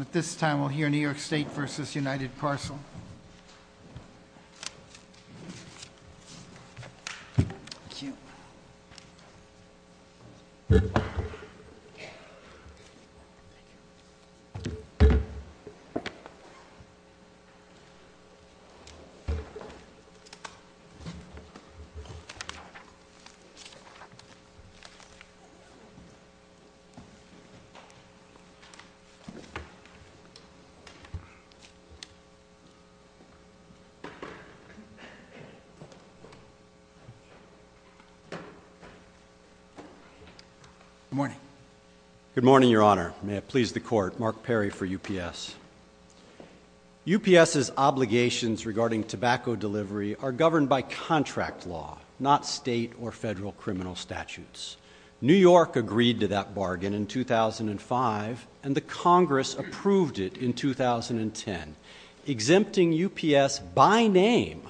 At this time we'll hear New York State v. United Parcel. Good morning, Your Honor. May it please the Court, Mark Perry for UPS. UPS's obligations regarding tobacco delivery are governed by contract law, not state or federal criminal statutes. New York agreed to that bargain in 2005 and the Congress approved it in 2010, exempting UPS by name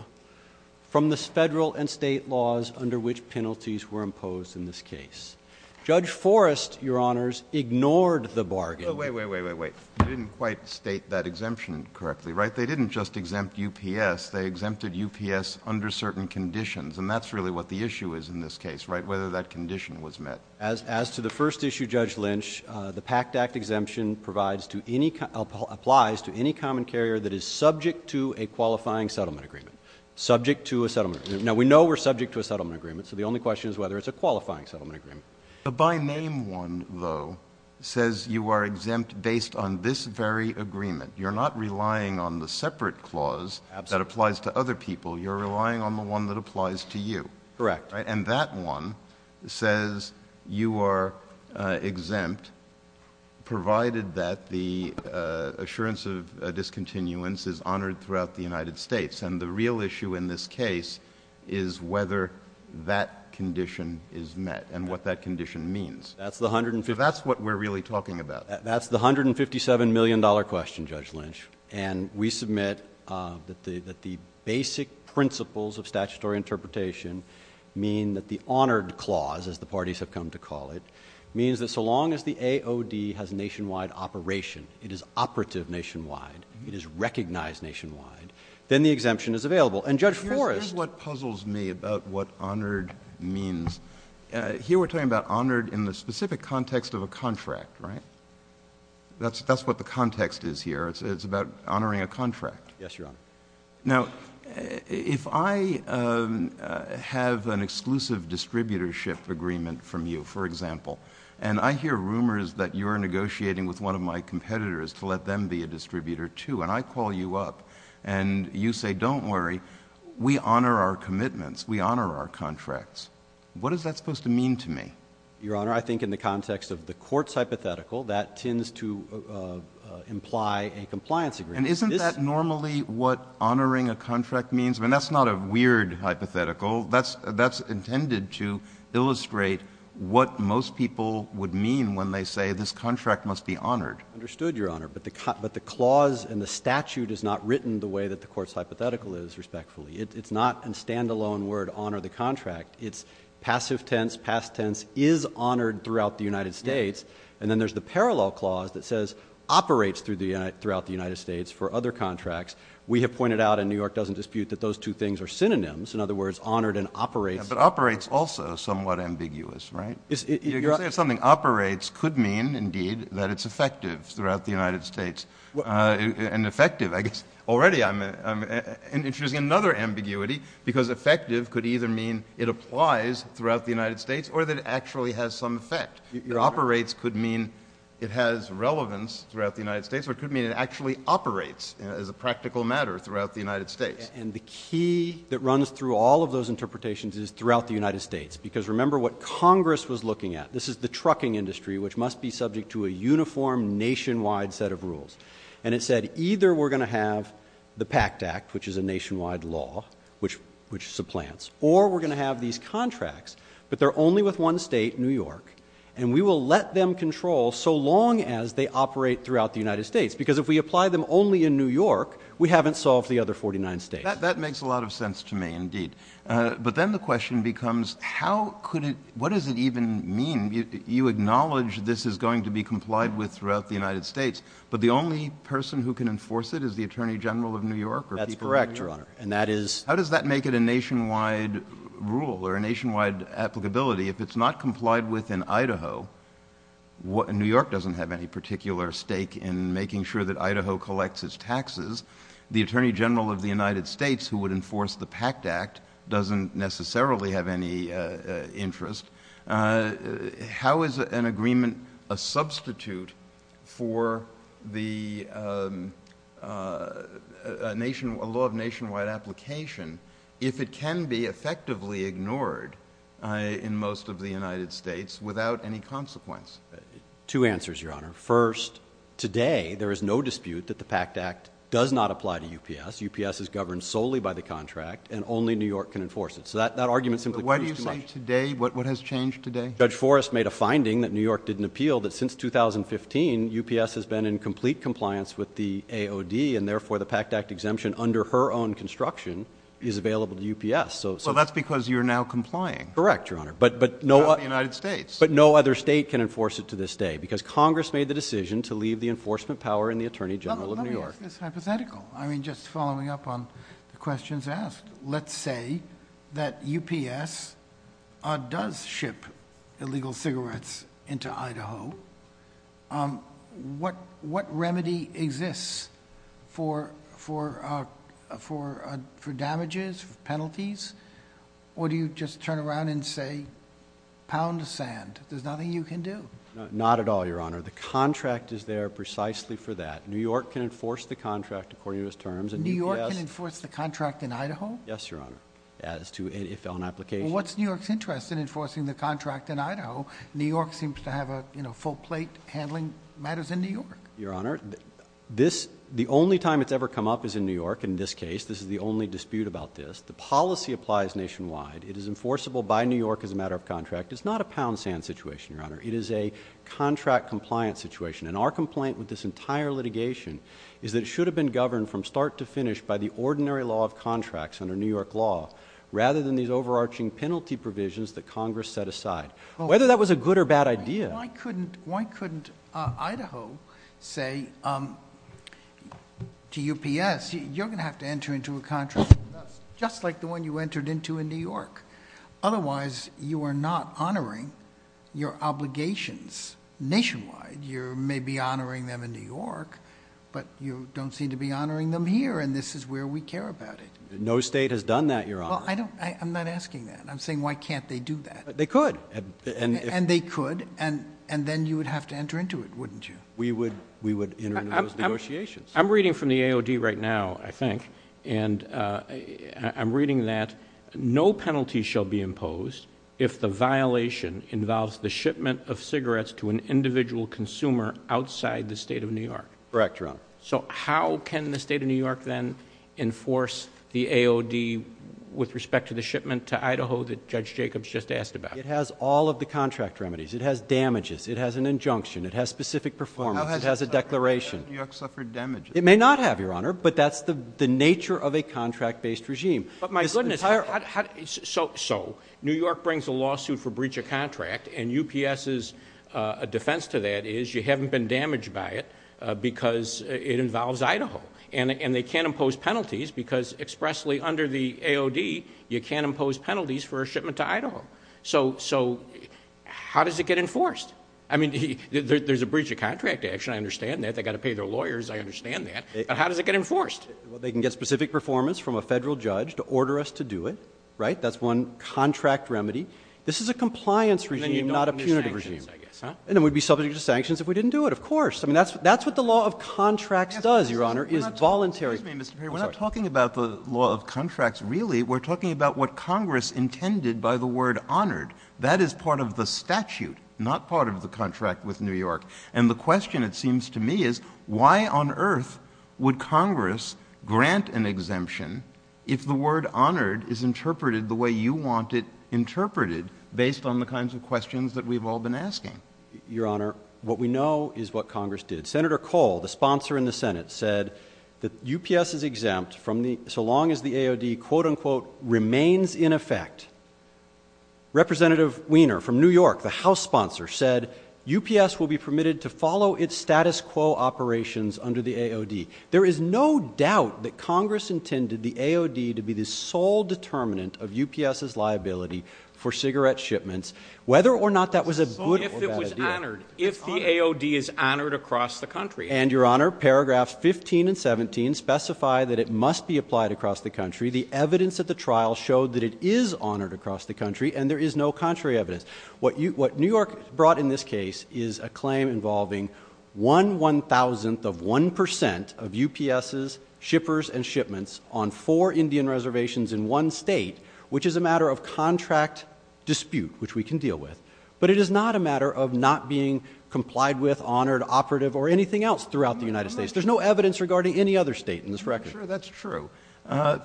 from the federal and state laws under which penalties were imposed in this case. Judge Forrest, Your Honors, ignored the bargain. Wait, wait, wait, wait. You didn't quite state that exemption correctly, right? They didn't just exempt UPS, they exempted UPS under certain conditions and that's really what the issue is in this case, right? Whether that condition was met. As to the first issue, Judge Lynch, the PACT Act exemption applies to any common carrier that is subject to a qualifying settlement agreement. Subject to a settlement agreement. Now we know we're subject to a settlement agreement so the only question is whether it's a qualifying settlement agreement. The by name one, though, says you are exempt based on this very agreement. You're not relying on the separate clause that applies to other people, you're relying on the one that applies to you. Correct. And that one says you are exempt provided that the assurance of discontinuance is honored throughout the United States and the real issue in this case is whether that condition is met and what that condition means. That's the hundred and fifty... So that's what we're really talking about. Basic principles of statutory interpretation mean that the honored clause, as the parties have come to call it, means that so long as the AOD has nationwide operation, it is operative nationwide, it is recognized nationwide, then the exemption is available. And Judge Forrest... Here's what puzzles me about what honored means. Here we're talking about honored in the specific context of a contract, right? That's what the context is here. It's about honoring a contract. Yes, Your Honor. Now, if I have an exclusive distributorship agreement from you, for example, and I hear rumors that you're negotiating with one of my competitors to let them be a distributor, too, and I call you up and you say, don't worry, we honor our commitments, we honor our contracts, what is that supposed to mean to me? Your Honor, I think in the context of the court's hypothetical, that tends to imply a compliance agreement. And isn't that normally what honoring a contract means? I mean, that's not a weird hypothetical. That's intended to illustrate what most people would mean when they say this contract must be honored. Understood, Your Honor. But the clause in the statute is not written the way that the court's hypothetical is, respectfully. It's not a stand-alone word, honor the contract. It's passive tense, past tense, is honored throughout the United States. And then there's the parallel clause that says operates throughout the United States for other contracts. We have pointed out, and New York doesn't dispute, that those two things are synonyms. In other words, honored and operates. But operates also is somewhat ambiguous, right? You're saying something operates could mean, indeed, that it's effective throughout the United States. And effective, I guess, already I'm introducing another ambiguity, because effective could either mean it applies throughout the United States or that it actually has some effect. Your operates could mean it has some effect, but it actually operates as a practical matter throughout the United States. And the key that runs through all of those interpretations is throughout the United States. Because remember what Congress was looking at. This is the trucking industry, which must be subject to a uniform nationwide set of rules. And it said either we're going to have the PACT Act, which is a nationwide law, which supplants, or we're going to have these contracts, but they're only with one state, New York, and we will let them control so long as they apply them only in New York, we haven't solved the other 49 states. That makes a lot of sense to me, indeed. But then the question becomes, how could it, what does it even mean? You acknowledge this is going to be complied with throughout the United States, but the only person who can enforce it is the Attorney General of New York. That's correct, Your Honor. And that is... How does that make it a nationwide rule or a nationwide applicability? If it's not complied with in Idaho, New York doesn't have any particular stake in making sure that Idaho collects its taxes. The Attorney General of the United States, who would enforce the PACT Act, doesn't necessarily have any interest. How is an agreement a substitute for a law of nationwide application if it can be effectively ignored in most of the United States without any consequence? Two answers, Your Honor. First, today there is no dispute that the PACT Act does not apply to UPS. UPS is governed solely by the contract, and only New York can enforce it. So that argument simply proves too much. But why do you say today? What has changed today? Judge Forrest made a finding that New York didn't appeal, that since 2015, UPS has been in complete compliance with the AOD, and therefore the PACT Act exemption, under her own construction, is available to UPS. Well, that's because you're now complying. Correct, Your Honor. But not the United States. But no other state can enforce it to this day, because Congress made the decision to leave the enforcement power in the Attorney General of New York. Let me ask this hypothetical. I mean, just following up on the questions asked. Let's say, what remedy exists for damages, for penalties? Or do you just turn around and say, pound of sand? There's nothing you can do. Not at all, Your Honor. The contract is there precisely for that. New York can enforce the contract according to its terms, and UPS— New York can enforce the contract in Idaho? Yes, Your Honor, as to—if on application. Well, what's New York's interest in enforcing the contract in Idaho? New York seems to have a, you know, full plate handling matters in New York. Your Honor, this—the only time it's ever come up is in New York, in this case. This is the only dispute about this. The policy applies nationwide. It is enforceable by New York as a matter of contract. It's not a pound of sand situation, Your Honor. It is a contract compliance situation. And our complaint with this entire litigation is that it should have been governed from start to finish by the ordinary law of contracts under New York law, rather than these overarching penalty provisions that Congress set aside. Whether that was a good or bad idea— Why couldn't—why couldn't Idaho say, um, to UPS, you're going to have to enter into a contract with us just like the one you entered into in New York? Otherwise, you are not honoring your obligations nationwide. You may be honoring them in New York, but you don't seem to be honoring them here, and this is where we care about it. No state has done that, Your Honor. Well, I don't—I'm not asking that. I'm saying why can't they do that? They could. And if— And then you would have to enter into it, wouldn't you? We would—we would enter into those negotiations. I'm reading from the AOD right now, I think, and I'm reading that no penalty shall be imposed if the violation involves the shipment of cigarettes to an individual consumer outside the state of New York. Correct, Your Honor. So how can the state of New York then enforce the AOD with respect to the shipment to Idaho that Judge Jacobs just asked about? It has all of the contract remedies. It has damages. It has an injunction. It has specific performance. It has a declaration. How has New York suffered damage? It may not have, Your Honor, but that's the nature of a contract-based regime. But my goodness, how—so New York brings a lawsuit for breach of contract, and UPS's defense to that is you haven't been damaged by it because it involves Idaho, and they can't impose penalties because expressly under the AOD, you can't impose penalties for a shipment to Idaho. So—so how does it get enforced? I mean, there's a breach of contract action. I understand that. They've got to pay their lawyers. I understand that. But how does it get enforced? Well, they can get specific performance from a federal judge to order us to do it, right? That's one contract remedy. This is a compliance regime, not a punitive regime. And then you don't do sanctions, I guess, huh? And then we'd be subject to sanctions if we didn't do it. Of course. I mean, that's—that's what the law of contracts does, Your Honor, is voluntary. Excuse me, Mr. Perry. I'm sorry. We're not talking about the law of contracts, really. We're talking about what Congress intended by the word honored. That is part of the statute, not part of the contract with New York. And the question, it seems to me, is why on earth would Congress grant an exemption if the word honored is interpreted the way you want it interpreted based on the kinds of questions that we've all been asking? Your Honor, what we know is what Congress did. Senator Cole, the sponsor in the Senate, said that UPS is exempt from the—so long as the AOD, quote-unquote, remains in effect. Representative Weiner from New York, the House sponsor, said UPS will be permitted to follow its status quo operations under the AOD. There is no doubt that Congress intended the AOD to be the sole determinant of UPS's liability for cigarette shipments, whether or not that was a good or bad idea. If it was honored. If the AOD is honored across the country. And Your Honor, paragraphs 15 and 17 specify that it must be applied across the country. The evidence at the trial showed that it is honored across the country, and there is no contrary evidence. What New York brought in this case is a claim involving one one-thousandth of one percent of UPS's shippers and shipments on four Indian reservations in one state, which is a matter of contract dispute, which we can deal with. But it is not a matter of not being complied with, honored, operative, or anything else throughout the United States. There's no evidence regarding any other state in this record. Judge Walton Sure, that's true.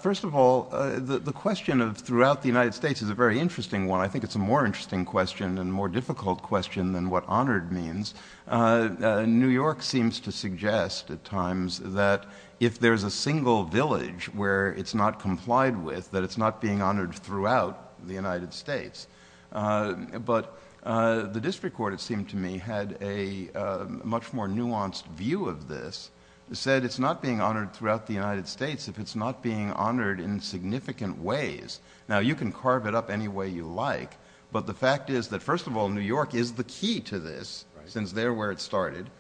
First of all, the question of throughout the United States is a very interesting one. I think it's a more interesting question and more difficult question than what honored means. New York seems to suggest at times that if there's a single village where it's not complied with, that it's not being honored throughout the United States. But the district court, it seemed to me, had a much more nuanced view of this. It said it's not being honored throughout the United States if it's not being honored in significant ways. Now, you can carve it up any way you like, but the fact is that, first of all, New York is the key to this, since they're where it started.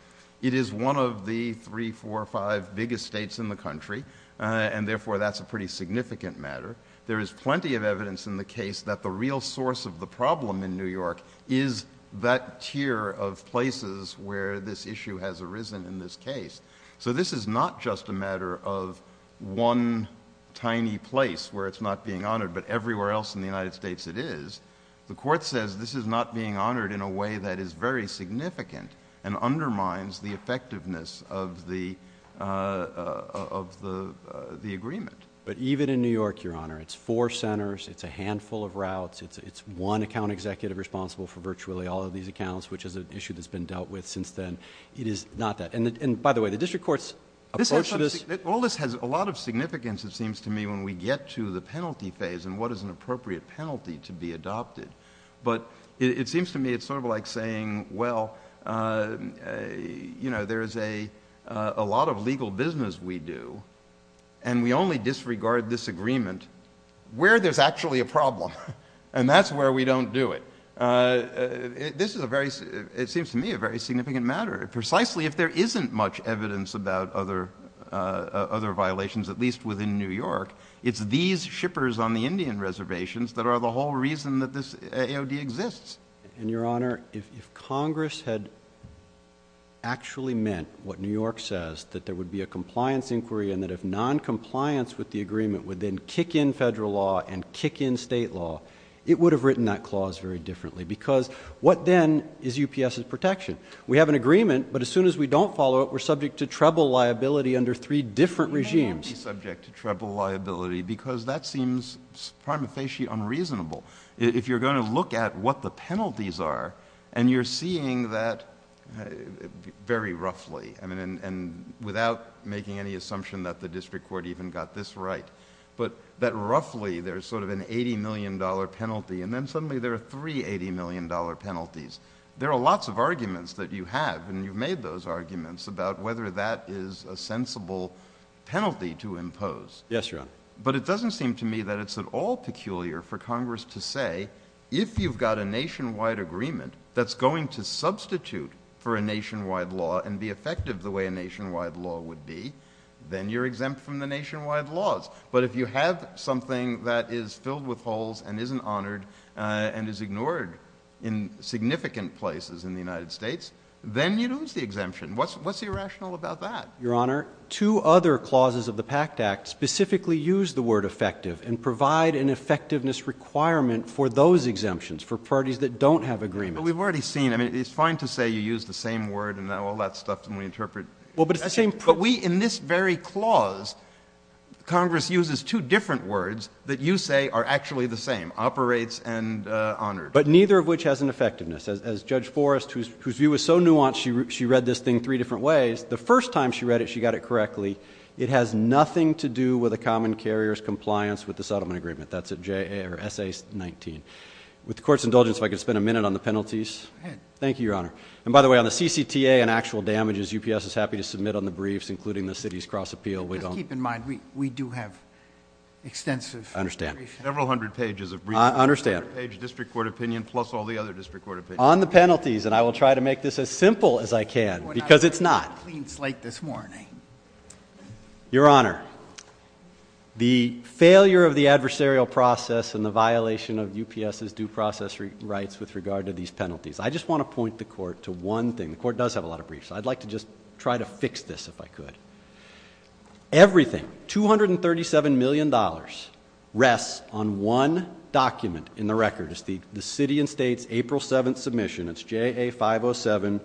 It is one of the three, four, five biggest states in the country, and therefore that's a pretty significant matter. There is plenty of evidence in the case that the real source of the problem in New York is that tier of places where this issue has arisen in this case. So this is not just a matter of one tiny place where it's not being honored, but everywhere else in the United States it is. The court says this is not being honored in a way that is very significant and undermines the effectiveness of the agreement. But even in New York, Your Honor, it's four centers, it's a handful of routes, it's one account executive responsible for virtually all of these accounts, which is an issue that's been dealt with since then. It is not that. And by the way, the district court's approach to this... All this has a lot of significance, it seems to me, when we get to the penalty phase and what is an appropriate penalty to be adopted. But it seems to me it's sort of like saying, well, you know, there is a lot of legal business we do, and we only disregard this agreement where there's actually a problem. And that's where we don't do it. This is a very, it seems to me, a very significant matter. Precisely if there isn't much evidence about other violations, at least within New York, it's these shippers on the Indian reservations that are the whole reason that this AOD exists. And, Your Honor, if Congress had actually meant what New York says, that there would be a compliance inquiry and that if noncompliance with the agreement would then kick in federal law and kick in state law, it would have written that clause very differently. Because what then is UPS's protection? We have an agreement, but as soon as we don't follow it, we're subject to treble liability under three different regimes. You can't be subject to treble liability because that seems prima facie unreasonable. If you're looking at what penalties are, and you're seeing that very roughly, I mean, and without making any assumption that the district court even got this right, but that roughly there's sort of an $80 million penalty, and then suddenly there are three $80 million penalties. There are lots of arguments that you have, and you've made those arguments about whether that is a sensible penalty to impose. Yes, Your Honor. But it doesn't seem to me that it's at all peculiar for Congress to say, if you've got a nationwide agreement that's going to substitute for a nationwide law and be effective the way a nationwide law would be, then you're exempt from the nationwide laws. But if you have something that is filled with holes and isn't honored and is ignored in significant places in the United States, then you lose the exemption. What's the irrational about that? Your Honor, two other clauses of the PACT Act specifically use the word effective and for those exemptions, for parties that don't have agreements. But we've already seen, I mean, it's fine to say you use the same word and all that stuff when we interpret... Well, but it's the same... But we, in this very clause, Congress uses two different words that you say are actually the same, operates and honored. But neither of which has an effectiveness. As Judge Forrest, whose view is so nuanced, she read this thing three different ways. The first time she read it, she got it correctly. It has nothing to do with a common carrier's compliance with the settlement agreement. That's at S.A. 19. With the Court's indulgence, if I could spend a minute on the penalties... Go ahead. Thank you, Your Honor. And by the way, on the CCTA and actual damages, UPS is happy to submit on the briefs, including the city's cross-appeal. We don't... Just keep in mind, we do have extensive... I understand. Several hundred pages of briefs... I understand. Several hundred pages of district court opinion, plus all the other district court opinions. On the penalties, and I will try to make this as simple as I can, because it's not. We're not on a clean slate this morning. Your Honor, the failure of the adversarial process and the violation of UPS's due process rights with regard to these penalties... I just want to point the Court to one thing. The Court does have a lot of briefs. I'd like to just try to fix this, if I could. Everything, $237 million, rests on one document in the record. It's the city and state's April 7th submission. It's JA 507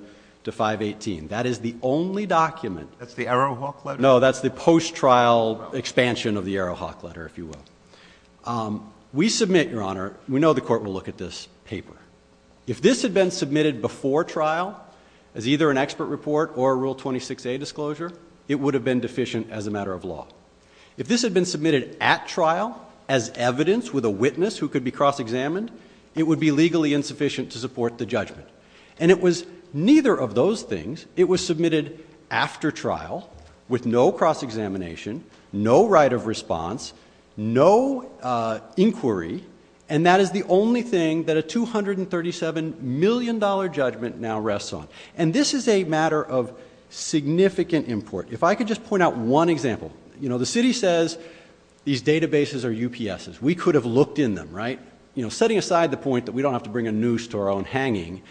to 518. That is the only document... That's the Arrowhawk letter? No, that's the post-trial expansion of the Arrowhawk letter, if you will. We submit, Your Honor... we know the Court will look at this paper. If this had been submitted before trial, as either an expert report or a Rule 26a disclosure, it would have been deficient as a matter of law. If this had been submitted at trial, as evidence with a witness who could be cross-examined, it would be legally insufficient to support the judgment. It was neither of those things. It was submitted after trial, with no cross-examination, no right of response, no inquiry, and that is the only thing that a $237 million judgment now rests on. This is a matter of significant import. If I could just point out one example. The city says these databases are UPS's. We could have looked in them, right? Setting aside the point that we don't have to bring a noose to our own hanging,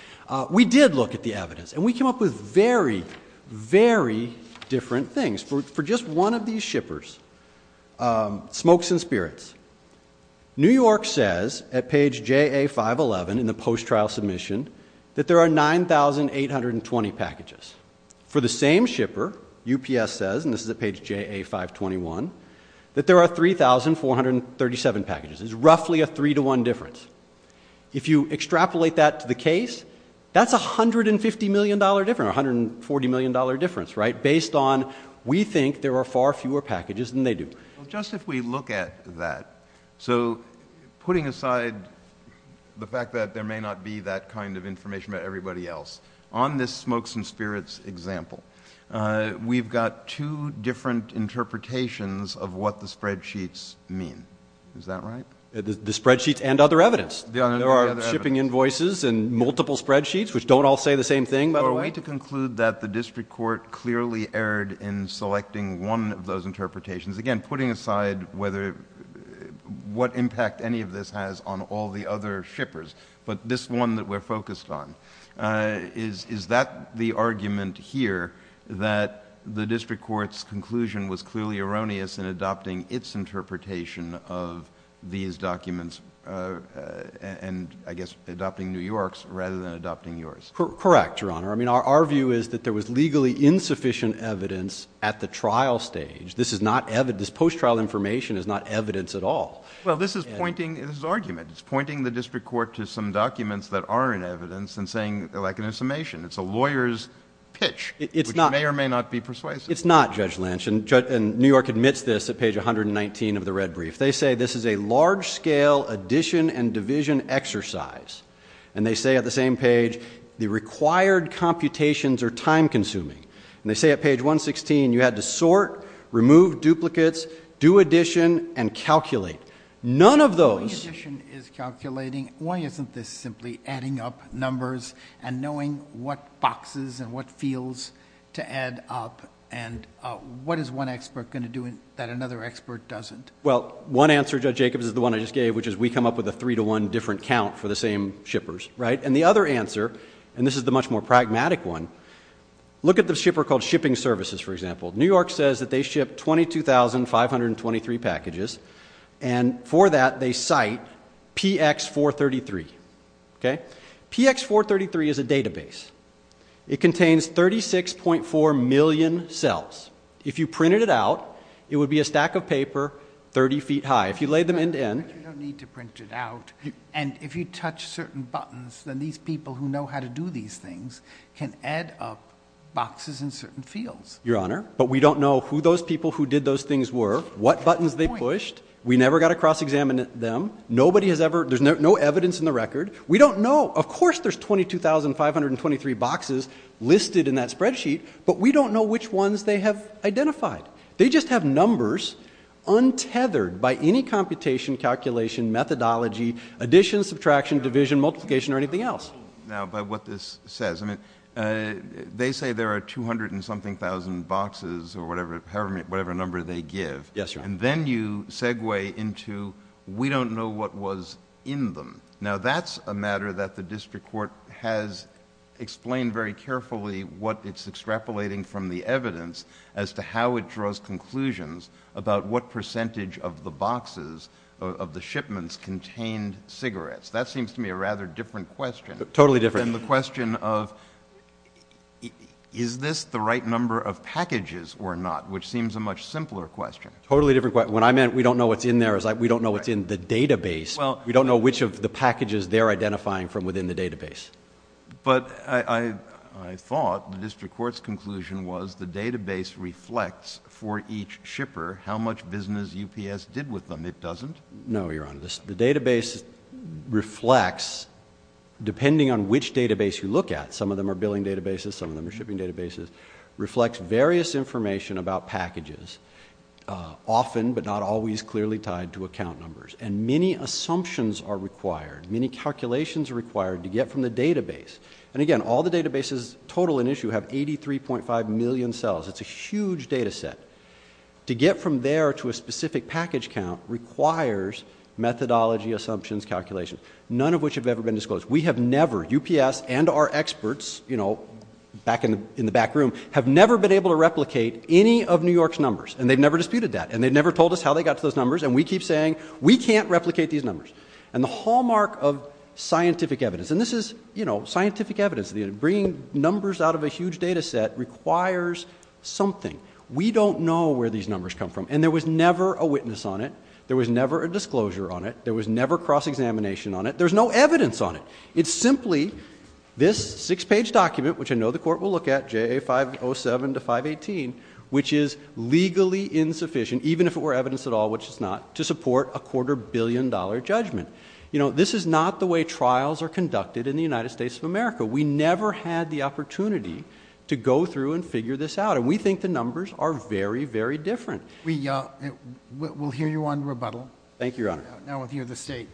we did look at the evidence, and we came up with very, very different things. For just one of these shippers, Smokes and Spirits, New York says, at page JA 511 in the post-trial submission, that there are 9,820 packages. For the same shipper, UPS says, and this is at page JA 521, that there are 3,437 packages. It's roughly a three-to-one difference. If you extrapolate that to the case, that's a $150 million difference, or a $140 million difference, right, based on we think there are far fewer packages than they do. Just if we look at that, so putting aside the fact that there may not be that kind of information about everybody else, on this Smokes and Spirits example, we've got two different interpretations of what the spreadsheets mean. Is that right? The spreadsheets and other evidence. There are shipping invoices and multiple spreadsheets, which don't all say the same thing, by the way. Are we to conclude that the district court clearly erred in selecting one of those interpretations? Again, putting aside what impact any of this has on all the other shippers, but this one that we're focused on, is that the argument here, that the district court's conclusion was clearly erroneous in adopting its interpretation of these documents and, I guess, adopting New York's rather than adopting yours? Correct, Your Honor. I mean, our view is that there was legally insufficient evidence at the trial stage. This post-trial information is not evidence at all. Well, this is pointing, this is argument. It's pointing the district court to some documents that are in evidence and saying, like an assumption, it's a lawyer's pitch, which may or may not be persuasive. It's not, Judge Lynch. And New York admits this at page 119 of the red brief. They say this is a large-scale addition and division exercise. And they say at the same page, the required computations are time-consuming. And they say at page 116, you had to sort, remove duplicates, do addition, and calculate. None of those — When addition is calculating, why isn't this simply adding up numbers and knowing what is one expert going to do that another expert doesn't? Well, one answer, Judge Jacobs, is the one I just gave, which is we come up with a three to one different count for the same shippers, right? And the other answer, and this is the much more pragmatic one, look at the shipper called Shipping Services, for example. New York says that they ship 22,523 packages. And for that, they cite PX433. Okay? PX433 is a database. It contains 36.4 million cells. If you printed it out, it would be a stack of paper 30 feet high. If you laid them end-to-end — But you don't need to print it out. And if you touch certain buttons, then these people who know how to do these things can add up boxes in certain fields. Your Honor, but we don't know who those people who did those things were, what buttons they pushed. We never got to cross-examine them. Nobody has ever — there's no evidence in the record. We don't know — of course there's 22,523 boxes listed in that spreadsheet, but we don't know which ones they have identified. They just have numbers untethered by any computation, calculation, methodology, addition, subtraction, division, multiplication, or anything else. Now, but what this says — I mean, they say there are 200 and something thousand boxes or whatever number they give. Yes, Your Honor. And then you segue into, we don't know what was in them. Now, that's a matter that the district court has explained very carefully what it's extrapolating from the evidence as to how it draws conclusions about what percentage of the boxes of the shipments contained cigarettes. That seems to me a rather different question. Totally different. And the question of, is this the right number of packages or not, which seems a much simpler question. Totally different question. When I meant, we don't know what's in there, it's like, we don't know what's in the database. We don't know which of the packages they're identifying from within the database. But I thought the district court's conclusion was the database reflects for each shipper how much business UPS did with them. It doesn't? No, Your Honor. The database reflects, depending on which database you look at — some of them are billing databases, some of them are shipping databases — reflects various information about packages, often but not always clearly tied to account numbers. And many assumptions are required, many calculations are required to get from the database. And again, all the databases total in issue have 83.5 million cells. It's a huge data set. To get from there to a specific package count requires methodology, assumptions, calculations, none of which have ever been disclosed. We have never, UPS and our experts, you know, back in the back room, have never been able to replicate any of New York's numbers. And they've never disputed that. And they've never told us how they got to those numbers. And we keep saying, we can't replicate these numbers. And the hallmark of scientific evidence — and this is, you know, scientific evidence. Bringing numbers out of a huge data set requires something. We don't know where these numbers come from. And there was never a witness on it. There was never a disclosure on it. There was never cross-examination on it. There's no evidence on it. It's simply this six-page document, which I know the Court will look at, JA 507 to 518, which is legally insufficient, even if it were evidence at all, which it's not, to support a quarter-billion-dollar judgment. You know, this is not the way trials are conducted in the United States of America. We never had the opportunity to go through and figure this out. And we think the numbers are very, very different. We'll hear you on rebuttal. Thank you, Your Honor. Now with you, the State.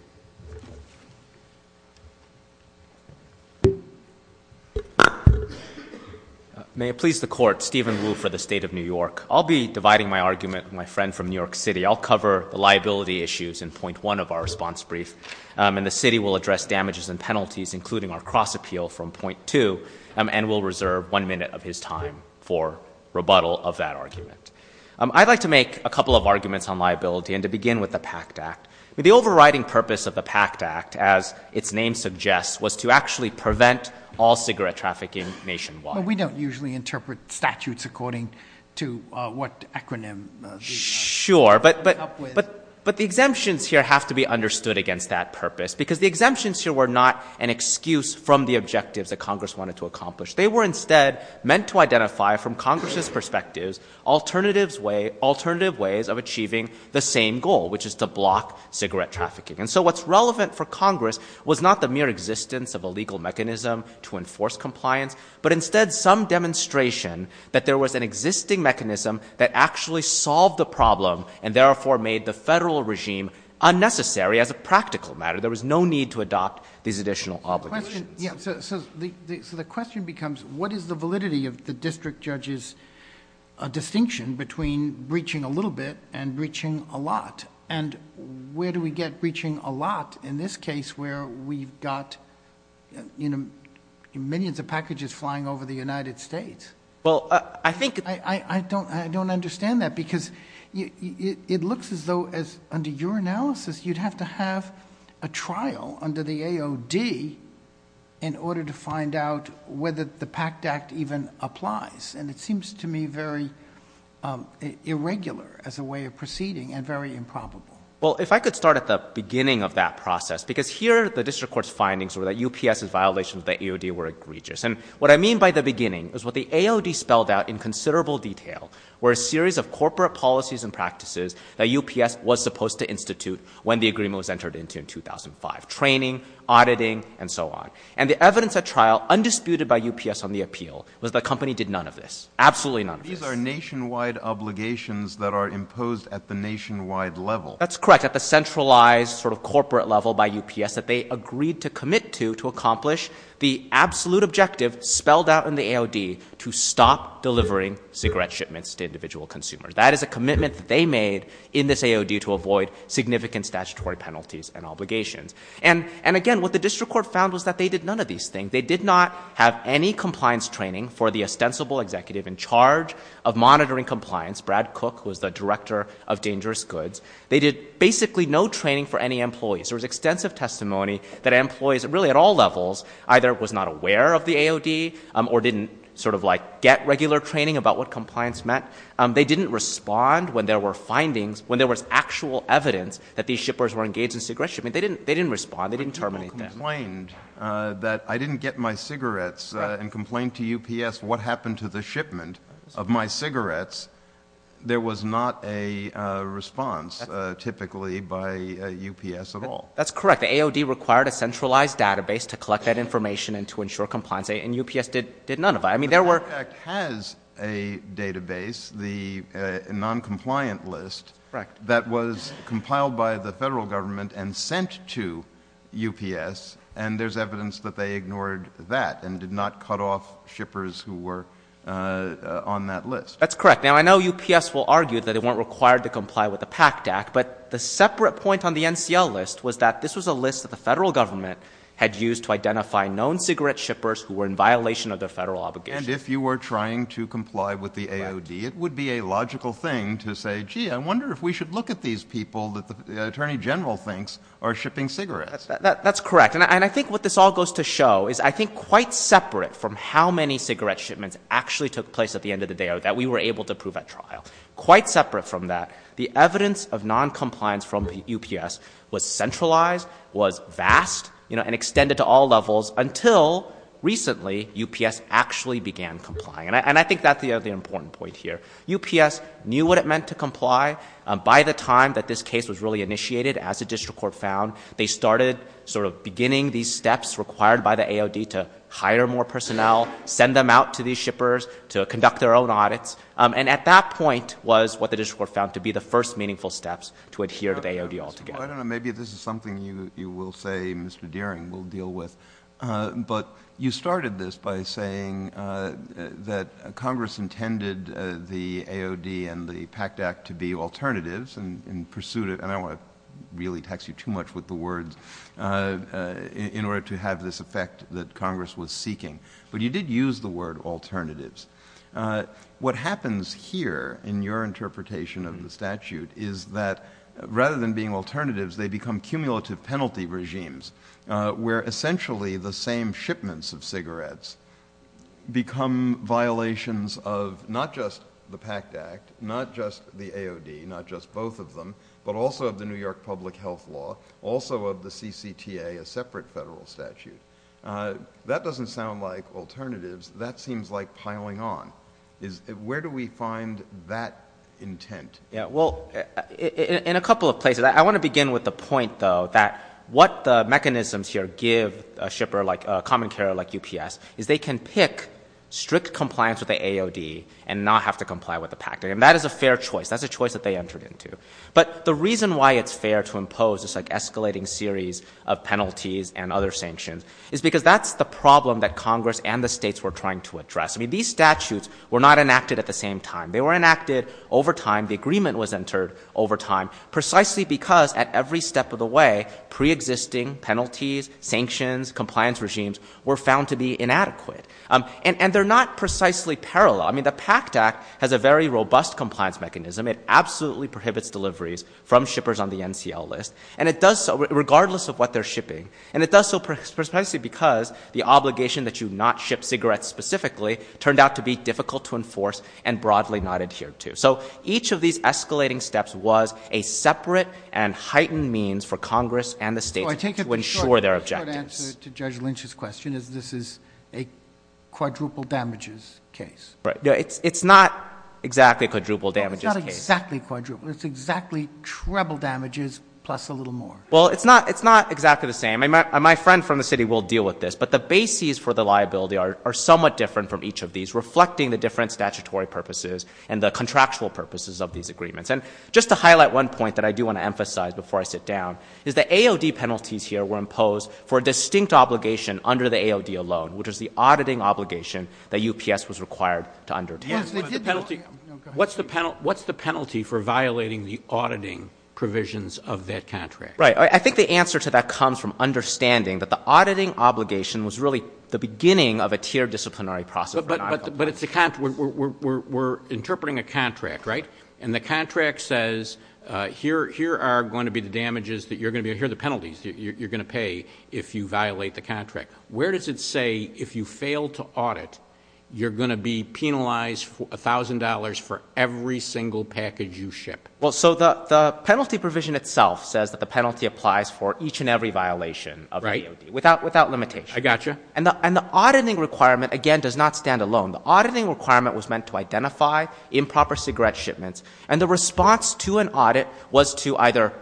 May it please the Court, Steven Wu for the State of New York. I'll be dividing my argument with my friend from New York City. I'll cover the liability issues in point one of our response brief. And the City will address damages and penalties, including our cross-appeal, from point two. And we'll reserve one minute of his time for rebuttal of that argument. I'd like to make a couple of arguments on liability, and to begin with the PACT Act. The overriding purpose of the PACT Act, as its name suggests, was to actually prevent all cigarette trafficking nationwide. We don't usually interpret statutes according to what acronym we come up with. Sure, but the exemptions here have to be understood against that purpose, because the exemptions here were not an excuse from the objectives that Congress wanted to accomplish. They were instead meant to identify, from Congress's perspectives, alternative ways of achieving the same goal, which is to block cigarette trafficking. And so what's relevant for Congress was not the mere existence of a legal mechanism to enforce compliance, but instead some demonstration that there was an existing mechanism that actually solved the problem, and therefore made the federal regime unnecessary as a practical matter. There was no need to adopt these additional obligations. So the question becomes, what is the validity of the district judge's distinction between breaching a little bit and breaching a lot? And where do we get breaching a lot in this case where we've got millions of packages flying over the United States? I don't understand that, because it looks as though, under your analysis, you'd have to have a trial under the AOD in order to find out whether the PACT Act even applies. And it seems to me very irregular as a way of proceeding and very improbable. Well, if I could start at the beginning of that process, because here the district court's findings were that UPS's violations of the AOD were egregious. And what I mean by the beginning is what the AOD spelled out in considerable detail were a series of corporate policies and practices that UPS was supposed to institute when the agreement was entered into in 2005. Training, auditing, and so on. And the evidence at trial, undisputed by UPS on the appeal, was that the company did none of this. Absolutely none of this. These are nationwide obligations that are imposed at the nationwide level. That's correct. At the centralized sort of corporate level by UPS that they agreed to commit to to accomplish the absolute objective spelled out in the AOD to stop delivering cigarette shipments to individual consumers. That is a commitment that they made in this AOD to avoid significant statutory penalties and obligations. And again, what the district court found was that they did none of these things. They did not have any compliance training for the ostensible executive in charge of monitoring compliance, Brad Cook, who was the director of Dangerous Goods. They did basically no training for any employees. There was extensive testimony that employees really at all levels either was not aware of the AOD or didn't sort of like get regular training about what compliance meant. They didn't respond when there were findings, when there was actual evidence that these shippers were engaged in cigarette shipments. They didn't respond. They didn't terminate them. People complained that I didn't get my cigarettes and complained to UPS what happened to the shipment of my cigarettes. There was not a response typically by UPS at all. That's correct. The AOD required a centralized database to collect that information and to ensure compliance and UPS did none of that. I mean, there were The PACT Act has a database, the noncompliant list that was compiled by the federal government and sent to UPS and there's evidence that they ignored that and did not cut off shippers who were on that list. That's correct. Now, I know UPS will argue that it weren't required to comply with the separate point on the NCL list was that this was a list that the federal government had used to identify known cigarette shippers who were in violation of their federal obligation. And if you were trying to comply with the AOD, it would be a logical thing to say, gee, I wonder if we should look at these people that the Attorney General thinks are shipping cigarettes. That's correct. And I think what this all goes to show is I think quite separate from how many cigarette shipments actually took place at the end of the day that we were able to prove at trial. Quite separate from that, the evidence of noncompliance from the UPS was centralized, was vast, you know, and extended to all levels until recently UPS actually began complying. And I think that's the other important point here. UPS knew what it meant to comply. By the time that this case was really initiated, as the district court found, they started sort of beginning these steps required by the AOD to hire more personnel, send them out to these shippers, to conduct their own audits. And at that point was what the district court found to be the first meaningful steps to adhere to the AOD altogether. Well, I don't know. Maybe this is something you will say, Mr. Deering, will deal with. But you started this by saying that Congress intended the AOD and the PACT Act to be alternatives in pursuit of, and I don't want to really tax you too much with the words, in order to have this effect that Congress was seeking. But you did use the word alternatives. What happens here in your interpretation of the statute is that rather than being alternatives, they become cumulative penalty regimes where essentially the same shipments of cigarettes become violations of not just the PACT Act, not just the AOD, not just both of them, but also of the New York Public Health Law, also of the CCTA, a separate federal statute. That doesn't sound like alternatives. That seems like piling on. Where do we find that intent? Well, in a couple of places. I want to begin with the point, though, that what the mechanisms here give a shipper, like a common carrier like UPS, is they can pick strict compliance with the AOD and not have to comply with the PACT Act. And that is a fair choice. That's a choice that they entered into. But the reason why it's fair to impose this escalating series of penalties and other sanctions is because that's the problem that Congress and the states were trying to address. I mean, these statutes were not enacted at the same time. They were enacted over time. The agreement was entered over time precisely because at every step of the way, preexisting penalties, sanctions, compliance regimes were found to be inadequate. And they're not precisely parallel. I mean, the PACT Act has a very robust compliance mechanism. It absolutely prohibits deliveries from shippers on the NCL list. And it does so regardless of what they're shipping. And it does so precisely because the obligation that you not ship cigarettes specifically turned out to be difficult to enforce and broadly not adhered to. So each of these escalating steps was a separate and heightened means for Congress and the states to ensure their objectives. So I take it the short answer to Judge Lynch's question is this is a quadruple damages case. Right. It's not exactly a quadruple damages case. It's not exactly quadruple. It's exactly treble damages plus a little more. Well, it's not exactly the same. My friend from the city will deal with this. But the bases for the liability are somewhat different from each of these, reflecting the different statutory purposes and the contractual purposes of these agreements. And just to highlight one point that I do want to emphasize before I sit down is the AOD penalties here were imposed for a distinct obligation under the AOD alone, which is the auditing obligation that UPS was required to undertake. Yes, they did. What's the penalty for violating the auditing provisions of that contract? Right. I think the answer to that comes from understanding that the auditing obligation was really the beginning of a tier disciplinary process. But we're interpreting a contract, right? And the contract says here are going to be the damages that you're going to be here, the penalties you're going to pay if you violate the contract. Where does it say if you fail to audit, you're going to be penalized $1,000 for every single package you ship? Well, so the penalty provision itself says that the penalty applies for each and every violation of the AOD without limitation. I got you. And the auditing requirement, again, does not stand alone. The auditing requirement was meant to identify improper cigarette shipments. And the response to an audit was to either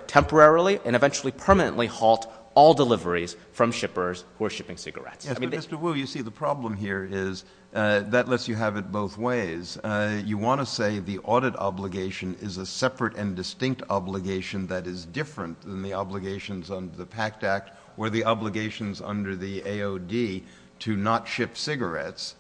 or shipping cigarettes. Yes, but Mr. Wu, you see the problem here is that lets you have it both ways. You want to say the audit obligation is a separate and distinct obligation that is different than the obligations under the PACT Act or the obligations under the AOD to not ship cigarettes.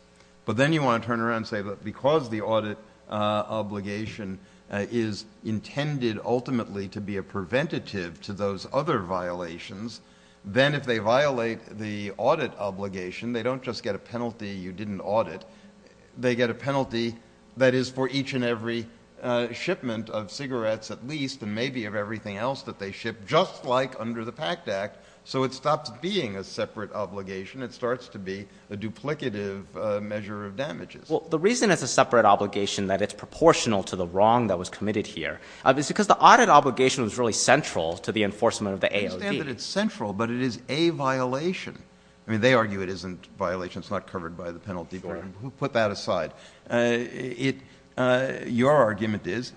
But then you want to turn around and say that because the audit obligation is intended ultimately to be a preventative to those other violations, then if they violate the audit obligation, they don't just get a penalty you didn't audit. They get a penalty that is for each and every shipment of cigarettes at least and maybe of everything else that they ship, just like under the PACT Act. So it stops being a separate obligation. It starts to be a duplicative measure of damages. The reason it's a separate obligation that it's proportional to the wrong that was committed here is because the audit obligation was really central to the enforcement of the AOD. I understand that it's central, but it is a violation. I mean, they argue it isn't violation. It's not covered by the penalty board. Put that aside. Your argument is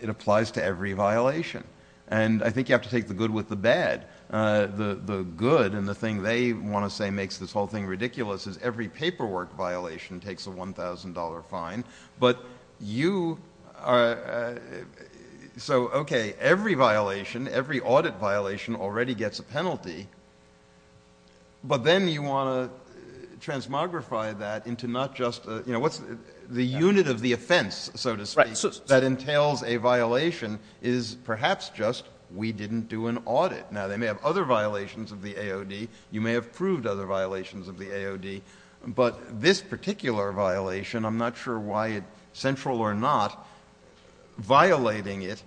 it applies to every violation. And I think you have to take the good with the bad. The good and the thing they want to say makes this whole thing ridiculous is every paperwork violation takes a $1,000 fine. But you are, so okay, every violation, every audit violation already gets a penalty. But then you want to transmogrify that into not just, you know, what's the unit of the offense, so to speak, that entails a violation is perhaps just we didn't do an audit. Now they may have other violations of the AOD. You may have proved other violations of the violation. I'm not sure why it's central or not. Violating it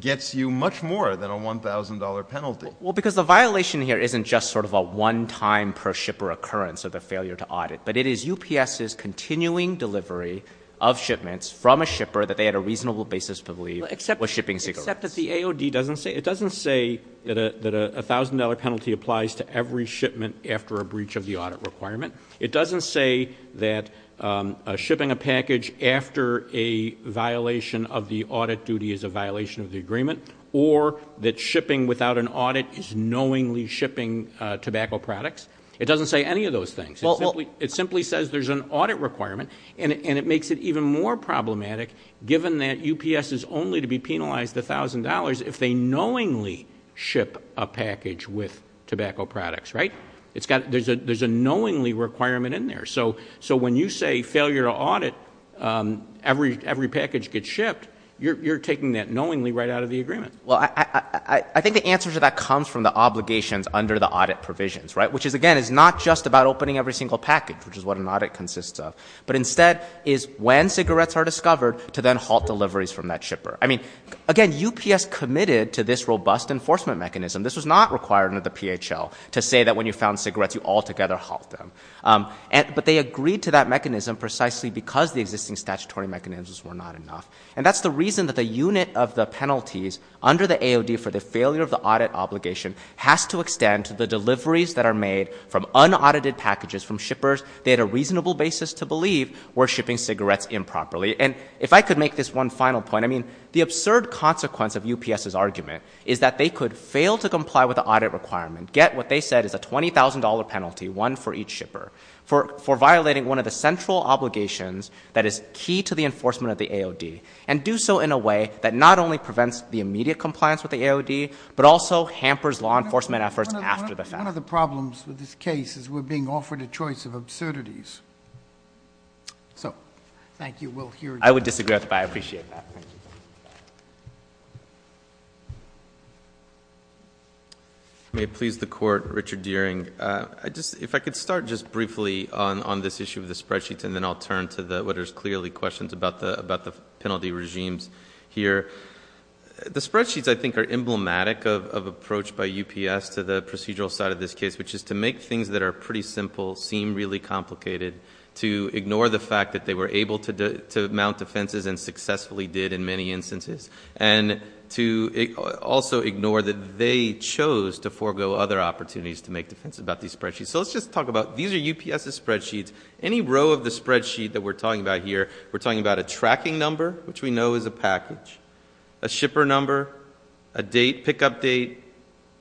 gets you much more than a $1,000 penalty. Well, because the violation here isn't just sort of a one-time per shipper occurrence of the failure to audit, but it is UPS's continuing delivery of shipments from a shipper that they had a reasonable basis to believe was shipping cigarettes. Except that the AOD doesn't say, it doesn't say that a $1,000 penalty applies to every shipping a package after a violation of the audit duty is a violation of the agreement or that shipping without an audit is knowingly shipping tobacco products. It doesn't say any of those things. It simply says there's an audit requirement and it makes it even more problematic given that UPS is only to be penalized $1,000 if they knowingly ship a package with tobacco products, right? There's a knowingly requirement in there. So when you say failure to audit, every package gets shipped, you're taking that knowingly right out of the agreement. Well, I think the answer to that comes from the obligations under the audit provisions, right? Which is, again, is not just about opening every single package, which is what an audit consists of, but instead is when cigarettes are discovered to then halt deliveries from that shipper. I mean, again, UPS committed to this robust enforcement mechanism. This was not required under the PHL to say that when you found cigarettes, you altogether halt them. But they agreed to that mechanism precisely because the existing statutory mechanisms were not enough. And that's the reason that the unit of the penalties under the AOD for the failure of the audit obligation has to extend to the deliveries that are made from unaudited packages from shippers they had a reasonable basis to believe were shipping cigarettes improperly. And if I could make this one final point, I mean, the absurd consequence of UPS's argument is that they could fail to comply with the audit requirement, get what they said is a $20,000 penalty, one for each shipper, for violating one of the central obligations that is key to the enforcement of the AOD, and do so in a way that not only prevents the immediate compliance with the AOD, but also hampers law enforcement efforts after the fact. One of the problems with this case is we're being offered a choice of absurdities. So, thank you. We'll hear you. I would disagree with that. I appreciate that. Thank you. May it please the Court, Richard Deering. If I could start just briefly on this issue of the spreadsheets, and then I'll turn to what are clearly questions about the penalty regimes here. The spreadsheets, I think, are emblematic of approach by UPS to the procedural side of this case, which is to make things that are pretty simple seem really complicated, to ignore the fact that they were able to mount defenses, and successfully did in many instances, and to also ignore that they chose to forego other opportunities to make defenses about these spreadsheets. So, let's just talk about, these are UPS's spreadsheets. Any row of the spreadsheet that we're talking about here, we're talking about a tracking number, which we know is a package, a shipper number, a date, pickup date,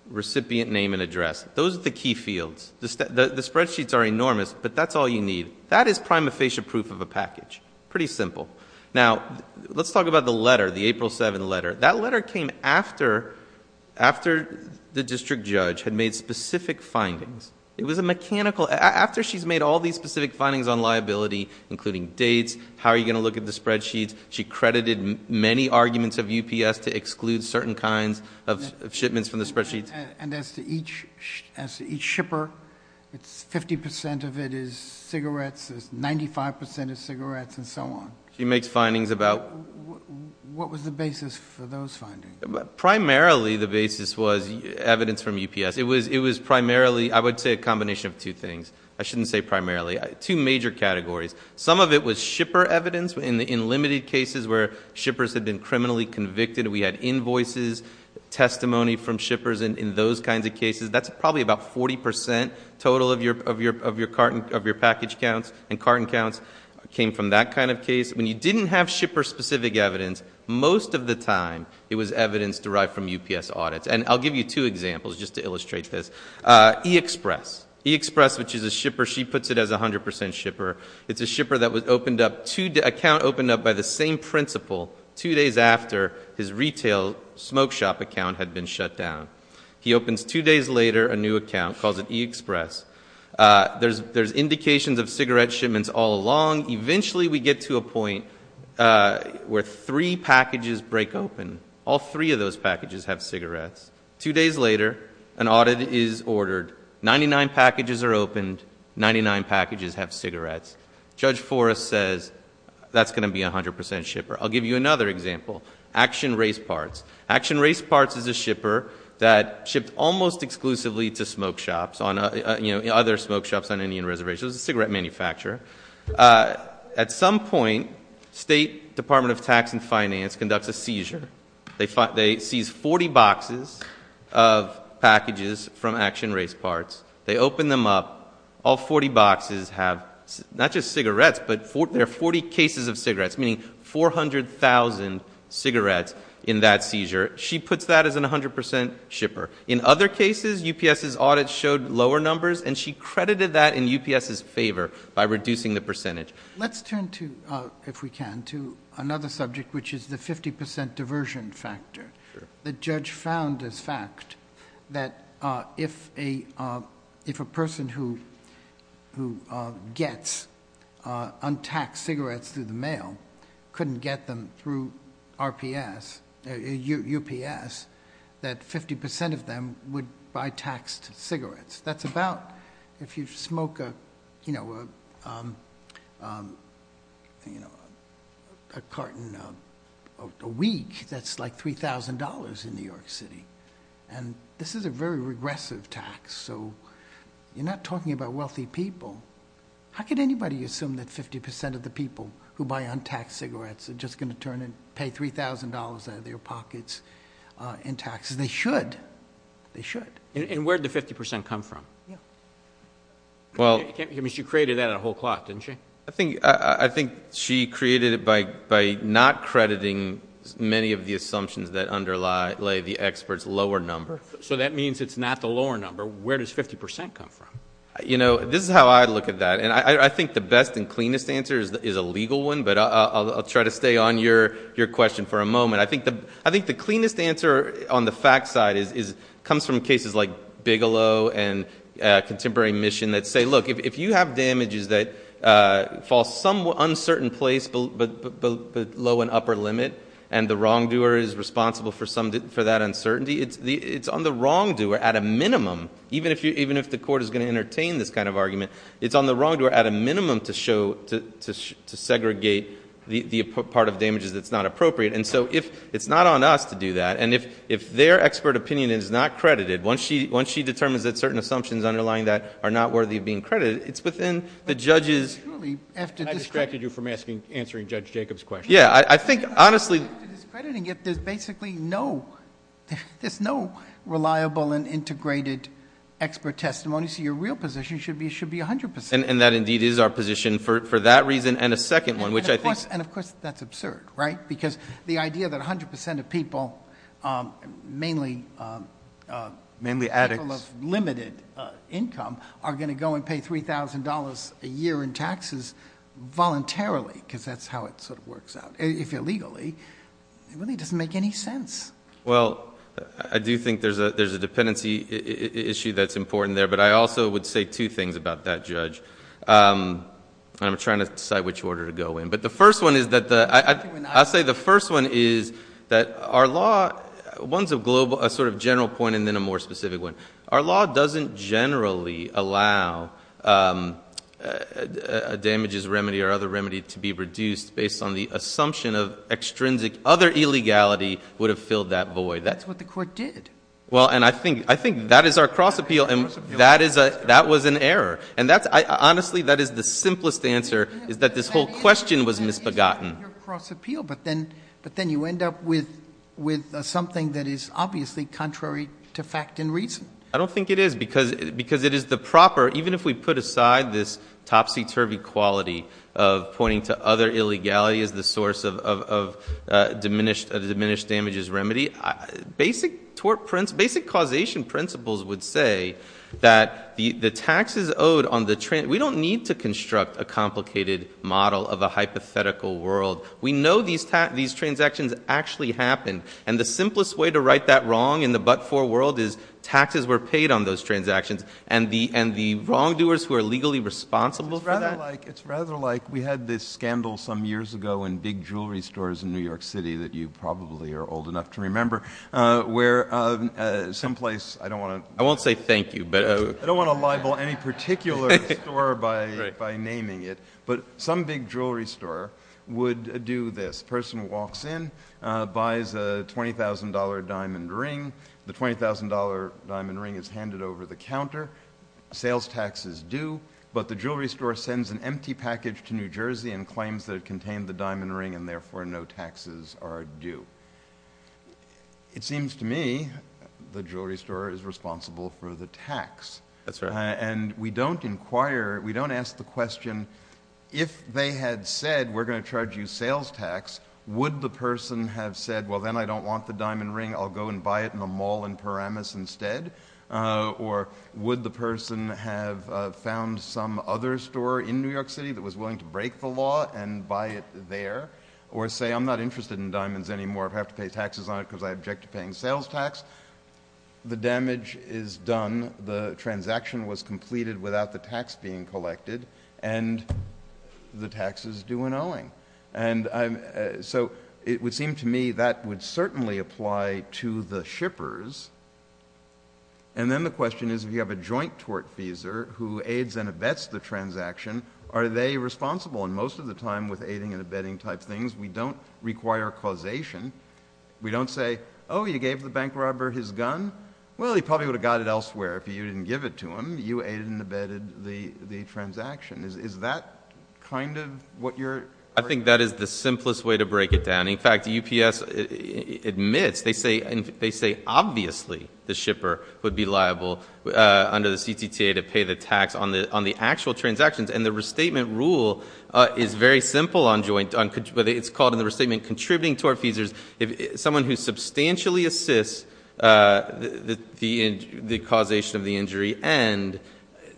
recipient name and address. Those are the key fields. The spreadsheets are enormous, but that's all you need. That is prima facie proof of a package, pretty simple. Now, let's talk about the letter, the April 7th letter. That letter came after the district judge had made specific findings. It was a mechanical... after she's made all these specific findings on liability, including dates, how are you going to look at the spreadsheets, she credited many arguments of UPS to exclude certain kinds of shipments from the spreadsheets. And as to each shipper, 50% of it is cigarettes, 95% is cigarettes, and so on. She makes findings about... What was the basis for those findings? Primarily the basis was evidence from UPS. It was primarily, I would say a combination of two things. I shouldn't say primarily. Two major categories. Some of it was shipper evidence in limited cases where shippers had been criminally convicted. We had invoices, testimony from shippers in those kinds of cases. That's probably about 40% total of your package counts and carton counts came from that kind of case. When you didn't have shipper-specific evidence, most of the time it was evidence derived from UPS audits. And I'll give you two examples just to illustrate this. eXpress, which is a shipper, she puts it as a 100% shipper. It's a shipper that was opened up... account opened up by the same principal two days after his retail smoke shop account had been shut down. He opens two days later a new account, calls it eXpress. There's indications of cigarette shipments all along. Eventually we get to a point where three packages break open. All three of those packages have cigarettes. Two days later, an audit is ordered. Ninety-nine packages are opened. Ninety-nine packages have cigarettes. Judge Forrest says that's going to be a 100% shipper. I'll give you another example. Action Race Parts. Action Race Parts is a shipper that shipped almost exclusively to smoke shops, other smoke shops on Indian Reservation. It was a cigarette manufacturer. At some point, State Department of Tax and Finance conducts a seizure. They seize 40 boxes of packages from Action Race Parts. They open them up. All 40 boxes have not just cigarettes, but there are 40 cases of cigarettes, meaning 400,000 cigarettes in that seizure. She puts that as a 100% shipper. In other cases, UPS's audit showed lower numbers, and she credited that in UPS's favor by reducing the percentage. Let's turn to, if we can, to another subject, which is the 50% diversion factor. The judge found as fact that if a person who gets untaxed cigarettes through the mail couldn't get them through UPS, that 50% of them would buy taxed cigarettes. That's about, if you smoke a carton a week, that's like $3,000 in New York City. This is a very regressive tax. You're not talking about wealthy people. How could anybody assume that 50% of the people who buy untaxed cigarettes are just going to turn and pay $3,000 out of their pockets in taxes? They should. They should. Where did the 50% come from? She created that in a whole clot, didn't she? I think she created it by not crediting many of the assumptions that underlay the expert's lower number. That means it's not the lower number. Where does 50% come from? This is how I look at that. I think the best and cleanest answer is a legal one, but I'll try to stay on your question for a moment. I think the cleanest answer on the fact side comes from cases like Bigelow and Contemporary Mission that say, look, if you have damages that fall some uncertain place below an upper limit and the wrongdoer is responsible for that uncertainty, it's on the wrongdoer at a minimum, even if the court is going to entertain this kind of argument, it's on the wrongdoer at a minimum to segregate the part of damages that's not appropriate. It's not on us to do that. If their expert opinion is not credited, once she determines that certain assumptions underlying that are not worthy of being credited, it's within the judge's... I distracted you from answering Judge Jacob's question. Yeah. I think, honestly... After discrediting it, there's basically no reliable and integrated expert testimony, so your real position should be 100%. That indeed is our position for that reason and a second one, which I think... Of course, that's absurd, right? Because the idea that 100% of people, mainly addicts, people of limited income are going to go and pay $3,000 a year in taxes voluntarily, because that's how it sort of works out, if illegally, it really doesn't make any sense. Well, I do think there's a dependency issue that's important there, but I also would say two things about that, Judge. I'm trying to decide which order to go in, but the first one is that the... I'll say the first one is that our law, one's a sort of general point and then a more specific one. Our law doesn't generally allow a damages remedy or other remedy to be reduced based on the assumption of extrinsic other illegality would have filled that void. That's what the court did. Well, and I think that is our cross appeal and that was an error. Honestly, that is the simplest answer, is that this whole question was misbegotten. It's not your cross appeal, but then you end up with something that is obviously contrary to fact and reason. I don't think it is, because it is the proper, even if we put aside this topsy-turvy quality of pointing to other illegality as the source of a diminished damages remedy, basic causation principles would say that the taxes owed on the... We don't need to construct a complicated model of a hypothetical world. We know these transactions actually happen, and the simplest way to write that wrong in the but-for world is taxes were paid on those transactions and the wrongdoers who are legally responsible for that... It's rather like we had this scandal some years ago in big jewelry stores in New York City that you probably are old enough to remember, where some place... I don't want to... I won't say thank you, but... Some big jewelry store would do this. A person walks in, buys a $20,000 diamond ring. The $20,000 diamond ring is handed over the counter. Sales tax is due, but the jewelry store sends an empty package to New Jersey and claims that it contained the diamond ring, and therefore no taxes are due. It seems to me the jewelry store is responsible for the tax, and we don't inquire, we don't ask the question, if they had said, we're going to charge you sales tax, would the person have said, well then I don't want the diamond ring, I'll go and buy it in a mall in Paramus instead? Or would the person have found some other store in New York City that was willing to break the law and buy it there? Or say, I'm not interested in diamonds anymore, I have to pay taxes on it because I object to paying sales tax. The damage is done, the transaction was completed without the tax being collected, and the tax is due and owing. So it would seem to me that would certainly apply to the shippers. And then the question is, if you have a joint tort feeser who aids and abets the transaction, are they responsible? And most of the time with aiding and abetting type things, we don't require causation. We don't say, oh, you gave the bank robber his gun? Well, he probably would have got it elsewhere if you didn't give it to him. You aided and abetted the transaction. Is that kind of what you're... I think that is the simplest way to break it down. In fact, UPS admits, they say obviously the shipper would be liable under the CTTA to pay the tax on the actual transactions. And the restatement rule is very simple on joint, it's called in the restatement contributing to our feesers. If someone who substantially assists the causation of the injury and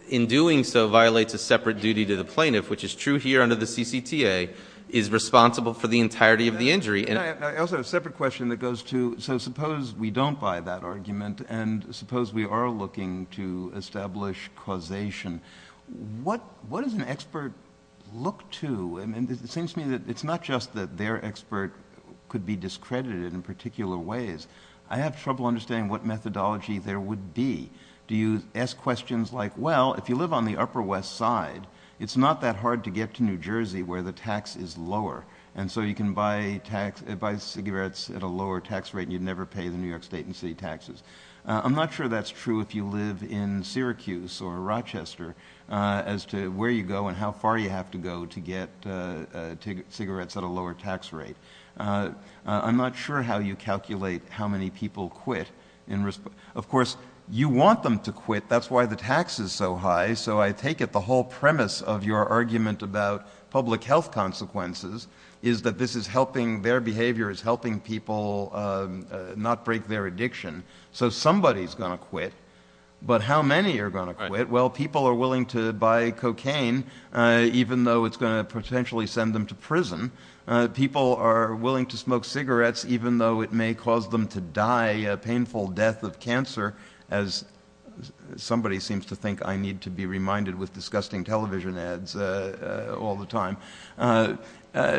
in doing so violates a separate duty to the plaintiff, which is true here under the CCTA, is responsible for the entirety of the injury. And I also have a separate question that goes to, so suppose we don't buy that argument and suppose we are looking to establish causation. What does an expert look to? It seems to me that it's not just that their expert could be discredited in particular ways. I have trouble understanding what methodology there would be. Do you ask questions like, well, if you live on the Upper West Side, it's not that hard to get to New Jersey where the tax is lower and so you can buy cigarettes at a lower tax rate and you'd never pay the New Jersey tax. I'm not sure that's true if you live in Syracuse or Rochester as to where you go and how far you have to go to get cigarettes at a lower tax rate. I'm not sure how you calculate how many people quit. Of course, you want them to quit, that's why the tax is so high, so I take it the whole premise of your argument about public health consequences is that this is helping, their behavior is helping people not break their addiction. So somebody's going to quit, but how many are going to quit? Well, people are willing to buy cocaine even though it's going to potentially send them to prison. People are willing to smoke cigarettes even though it may cause them to die a painful death of cancer as somebody seems to think I need to be reminded with disgusting television ads all the time.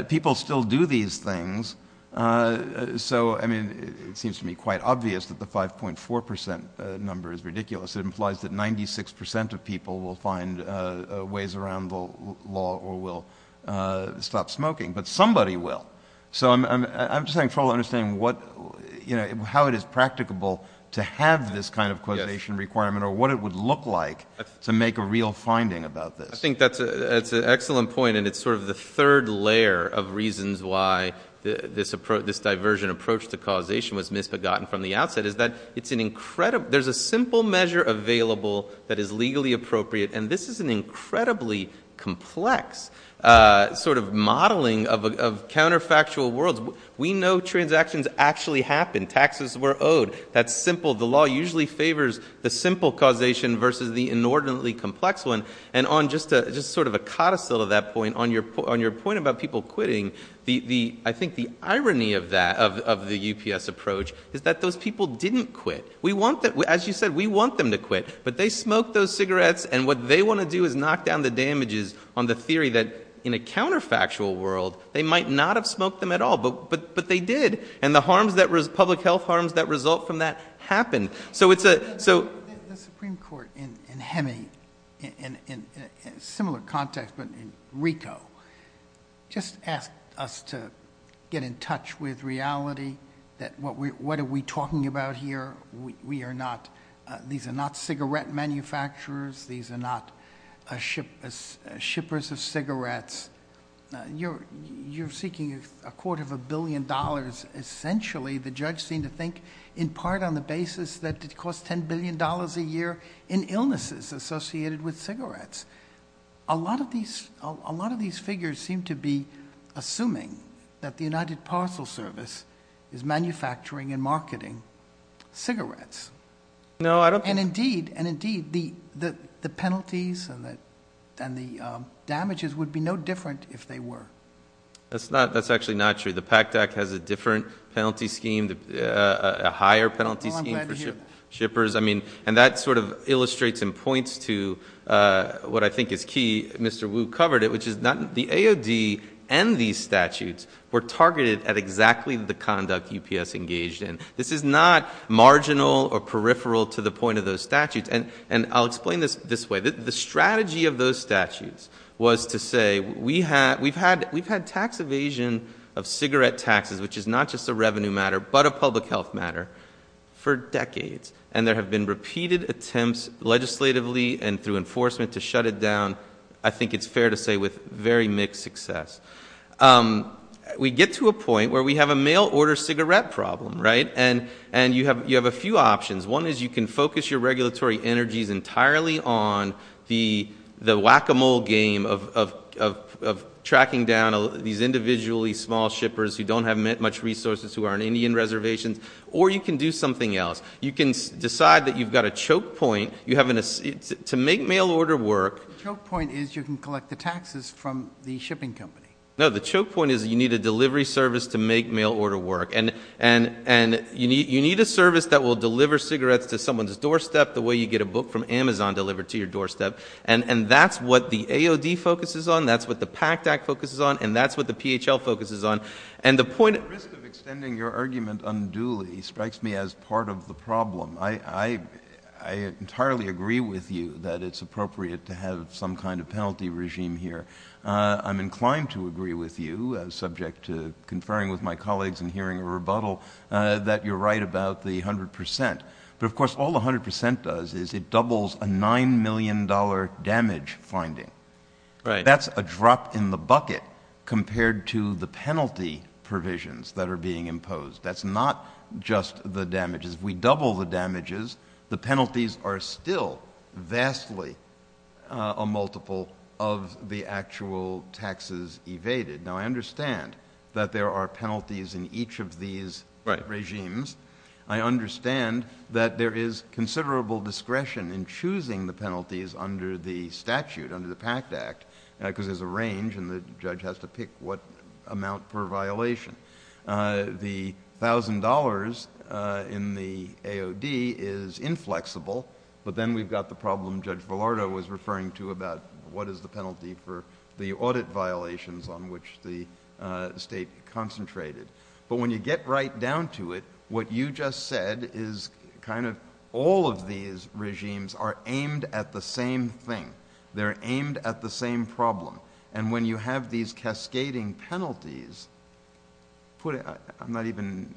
People still do these things, so it seems to me quite obvious that the 5.4% number is ridiculous. It implies that 96% of people will find ways around the law or will stop smoking, but somebody will. So I'm just having trouble understanding how it is practicable to have this kind of look-like to make a real finding about this. I think that's an excellent point, and it's sort of the third layer of reasons why this diversion approach to causation was misbegotten from the outset, is that there's a simple measure available that is legally appropriate, and this is an incredibly complex sort of modeling of counterfactual worlds. We know transactions actually happen. Taxes were owed. That's simple. The law usually favors the simple causation versus the inordinately complex one, and on just sort of a codicil of that point, on your point about people quitting, I think the irony of that, of the UPS approach, is that those people didn't quit. As you said, we want them to quit, but they smoked those cigarettes, and what they want to do is knock down the damages on the theory that in a counterfactual world they might not have smoked them at all, but they did, and the public health harms that result from that happened. The Supreme Court in Hemi, in a similar context, but in Rico, just asked us to get in touch with reality, that what are we talking about here? These are not cigarette manufacturers. These are not shippers of cigarettes. You're seeking a court of a billion dollars. Essentially, the judge seemed to think, in part on the basis that it costs $10 billion a year in illnesses associated with cigarettes. A lot of these figures seem to be assuming that the United Parcel Service is manufacturing and marketing cigarettes, and indeed, the penalties and the damages would be no different if they were. That's actually not true. The PACT Act has a different penalty scheme, a higher penalty scheme for shippers. That illustrates and points to what I think is key. Mr. Wu covered it, which is the AOD and these statutes were targeted at exactly the conduct UPS engaged in. This is not marginal or peripheral to the point of those statutes. I'll explain this this way. The strategy of those statutes was to say, we've had tax evasion of cigarette taxes, which is not just a revenue matter, but a public health matter, for decades. There have been repeated attempts legislatively and through enforcement to shut it down. I think it's fair to say with very mixed success. We get to a point where we have a mail order cigarette problem. You have a few options. One is you can focus your regulatory energies entirely on the whack-a-mole game of tracking down these individually small shippers who don't have much resources, who are on Indian reservations, or you can do something else. You can decide that you've got a choke point. You have to make mail order work. The choke point is you can collect the taxes from the shipping company. No, the choke point is you need a delivery service to make mail order work. You need a service that will deliver cigarettes to someone's doorstep the way you get a book from Amazon delivered to your doorstep. That's what the AOD focuses on. That's what the PACT Act focuses on. That's what the PHL focuses on. The risk of extending your argument unduly strikes me as part of the problem. I entirely agree with you that it's appropriate to have some kind of penalty regime here. I'm inclined to agree with you, subject to conferring with my colleagues and hearing a rebuttal, that you're right about the 100%. Of course, all the 100% does is it doubles a $9 million damage finding. That's a drop in the bucket compared to the penalty provisions that are being imposed. That's not just the damages. If we double the damages, the penalties are still vastly a multiple of the actual taxes evaded. Now, I understand that there are penalties in each of these regimes. I understand that there is considerable discretion in choosing the statute under the PACT Act because there's a range and the judge has to pick what amount per violation. The $1,000 in the AOD is inflexible, but then we've got the problem Judge Villardo was referring to about what is the penalty for the audit violations on which the state concentrated. When you get right down to it, what you just said is kind of all of these regimes are aimed at the same thing. They're aimed at the same problem. When you have these cascading penalties, I'm not even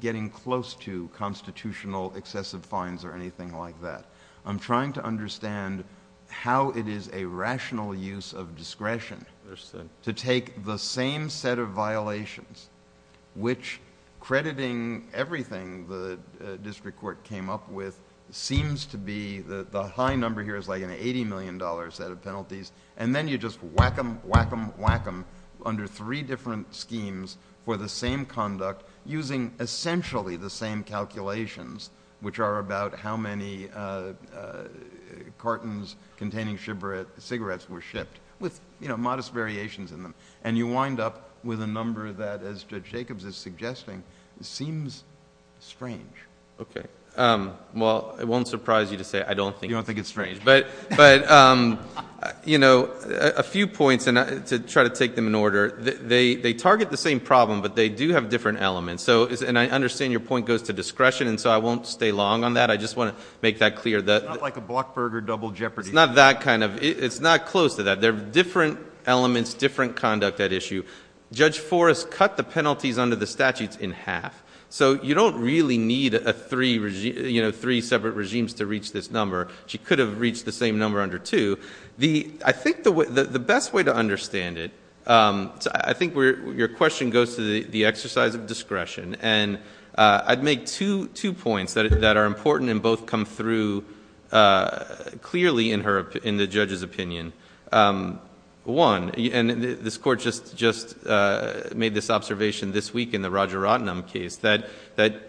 getting close to constitutional excessive fines or anything like that. I'm trying to understand how it is a rational use of discretion to take the same set of violations, which crediting everything the district court came up with seems to be the high number here is like an $80 million set of penalties. Then you just whack them, whack them, whack them under three different schemes for the same conduct using essentially the same calculations, which are about how many cartons containing cigarettes were shipped with modest variations in them. You wind up with a number that, as Judge Jacobs is suggesting, seems strange. Okay. Well, it won't surprise you to say I don't think it's strange. You don't think it's strange. A few points to try to take them in order. They target the same problem, but they do have different elements. I understand your point goes to discretion, and so I won't stay long on that. I just want to make that clear. It's not like a Blockburger double jeopardy. It's not that kind of... It's not close to that. There are different elements, different conduct at issue. Judge Forrest cut the penalties under the statutes in half, so you don't really need three separate regimes to reach this number. She could have reached the same number under two. I think the best way to understand it... I think your question goes to the exercise of discretion, and I'd make two points that are important and both come through clearly in the judge's opinion. One, and this Court just made this observation this week in the Roger Rotnam case, that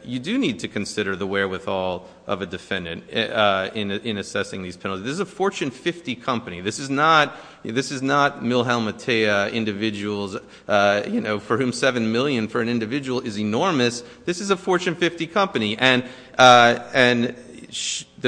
you do need to consider the wherewithal of a defendant in assessing these penalties. This is a Fortune 50 company. This is not Milhelm Matea individuals for whom $7 million for an individual is enormous. This is a Fortune 50 company, and the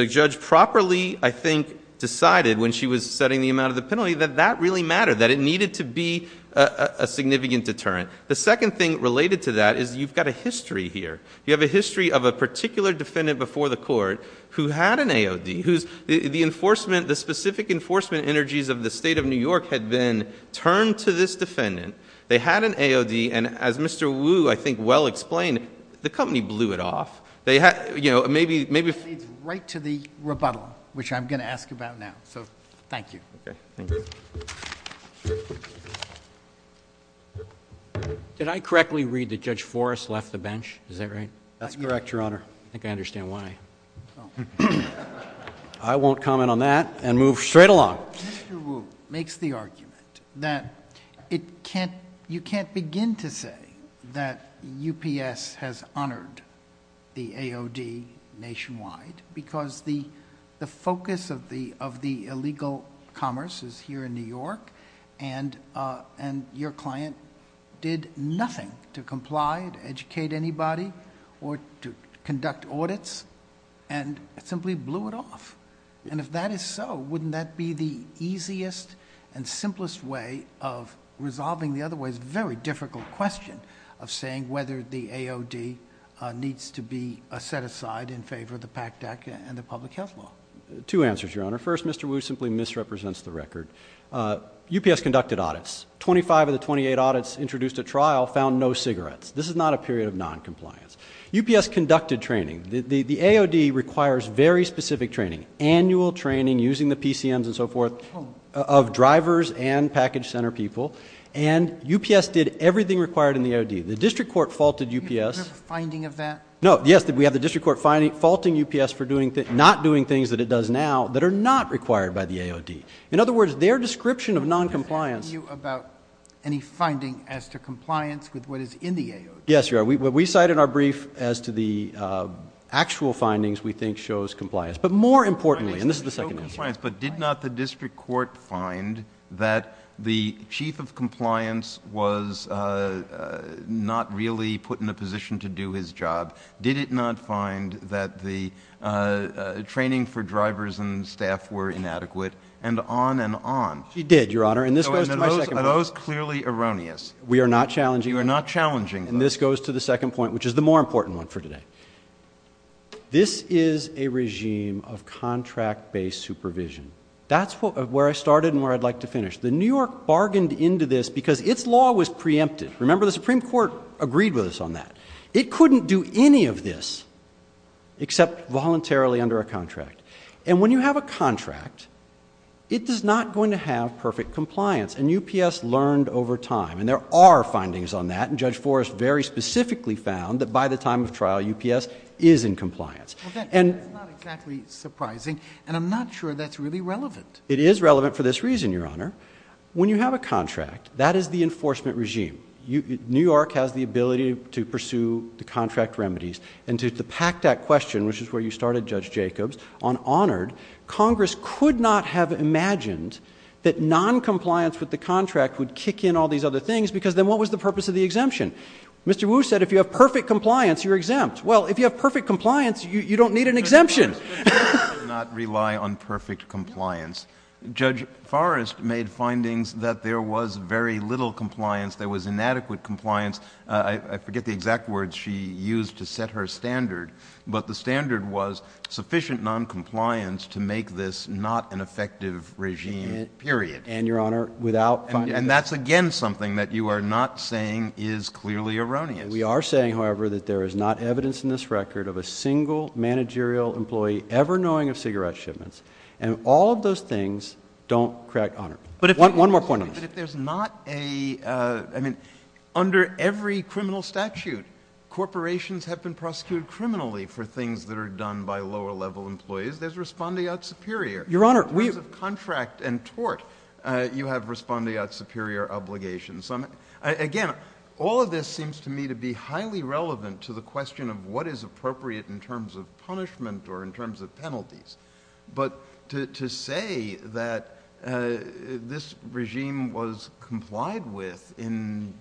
judge properly, I think, decided when she was setting the amount of the penalty that that really mattered, that it needed to be a significant deterrent. The second thing related to that is you've got a history here. You have a history of a particular defendant before the court who had an AOD, whose... the enforcement, the specific enforcement energies of the State of New York had been turned to this defendant. They had an AOD, and as Mr. Wu, I think, well explained, the company blew it off. They had... you know, maybe... It leads right to the rebuttal, which I'm going to ask about now. So thank you. Okay. Thank you. Did I correctly read that Judge Forrest left the bench? Is that right? That's correct, Your Honor. I think I understand why. I won't comment on that and move straight along. Mr. Wu makes the argument that you can't begin to say that UPS has honored the AOD nationwide because the focus of the illegal commerce is here in New York, and your client did nothing to comply, to educate anybody, or to conduct audits, and simply blew it off. If that is so, wouldn't that be the easiest and simplest way of resolving the otherwise very difficult question of saying whether the AOD needs to be set aside in favor of the PACDAC and the public health law? Two answers, Your Honor. First, Mr. Wu simply misrepresents the record. UPS conducted audits. Twenty-five of the twenty-eight audits introduced at trial found no cigarettes. This is not a period of noncompliance. UPS conducted training. The AOD requires very specific training, annual training using the AOD. UPS did everything required in the AOD. The district court faulted UPS... Do you have a finding of that? No. Yes, we have the district court faulting UPS for not doing things that it does now that are not required by the AOD. In other words, their description of noncompliance... Can I ask you about any finding as to compliance with what is in the AOD? Yes, Your Honor. We cite in our brief as to the actual findings we think shows compliance. But more importantly, and this is the second answer... was not really put in a position to do his job. Did it not find that the training for drivers and staff were inadequate? And on and on. It did, Your Honor. And this goes to my second point. Those are clearly erroneous. We are not challenging them. You are not challenging them. And this goes to the second point, which is the more important one for today. This is a regime of contract-based supervision. That's where I started and where I'd like to finish. The New York bargained into this because its law was preempted. Remember, the Supreme Court agreed with us on that. It couldn't do any of this except voluntarily under a contract. And when you have a contract, it is not going to have perfect compliance. And UPS learned over time. And there are findings on that. And Judge Forrest very specifically found that by the time of trial, UPS is in compliance. Well, that's not exactly surprising. And I'm not sure that's really relevant. It is relevant for this reason, Your Honor. When you have a contract, that is the enforcement regime. New York has the ability to pursue the contract remedies. And to pack that question, which is where you started, Judge Jacobs, on honored, Congress could not have imagined that noncompliance with the contract would kick in all these other things because then what was the purpose of the exemption? Mr. Wu said, if you have perfect compliance, you're exempt. Well, if you have perfect compliance, you don't need an exemption. But Congress does not rely on perfect compliance. Judge Forrest made findings that there was very little compliance. There was inadequate compliance. I forget the exact words she used to set her standard. But the standard was sufficient noncompliance to make this not an effective regime, period. And, Your Honor, without finding... And that's again something that you are not saying is clearly erroneous. We are saying, however, that there is not evidence in this record of a single managerial employee ever knowing of cigarette quantities. But if there's not a... I mean, under every criminal statute, corporations have been prosecuted criminally for things that are done by lower-level employees. There's respondeat superior. In terms of contract and tort, you have respondeat superior obligations. Again, all of this seems to me to be highly relevant to the question of what is appropriate in terms of the statute. The statute that the regime was complied with in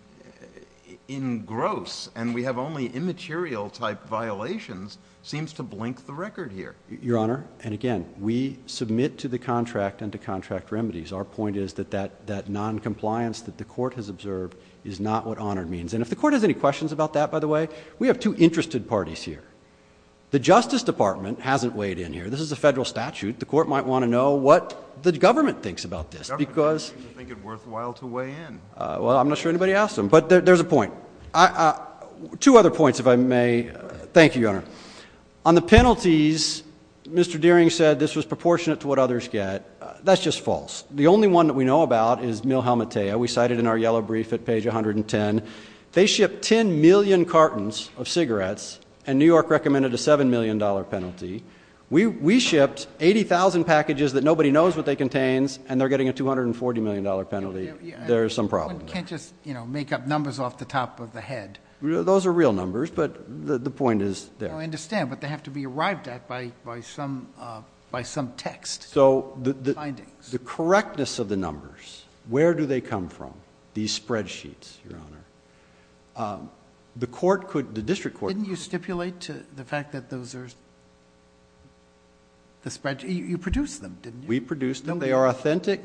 gross and we have only immaterial type violations seems to blink the record here. Your Honor, and again, we submit to the contract and to contract remedies. Our point is that that noncompliance that the Court has observed is not what honor means. And if the Court has any questions about that, by the way, we have two interested parties here. The Justice Department hasn't weighed in here. This is a federal statute. The Court might want to know what the government thinks about this because... I don't think it's worthwhile to weigh in. Well, I'm not sure anybody asked him. But there's a point. Two other points, if I may. Thank you, Your Honor. On the penalties, Mr. Deering said this was proportionate to what others get. That's just false. The only one that we know about is Mil Helmetea. We cited in our yellow brief at page 110. They shipped 10 million cartons of cigarettes and New York recommended a $7 million penalty. We shipped 80,000 packages that nobody knows what they contains and they're getting a $240 million penalty. There's some problem there. One can't just make up numbers off the top of the head. Those are real numbers, but the point is there. I understand, but they have to be arrived at by some text. So the correctness of the numbers, where do they come from, these spreadsheets, Your Honor? The District Court... Didn't you stipulate the fact that those are the spreadsheets? You produced them, didn't you? We produced them. They are authentic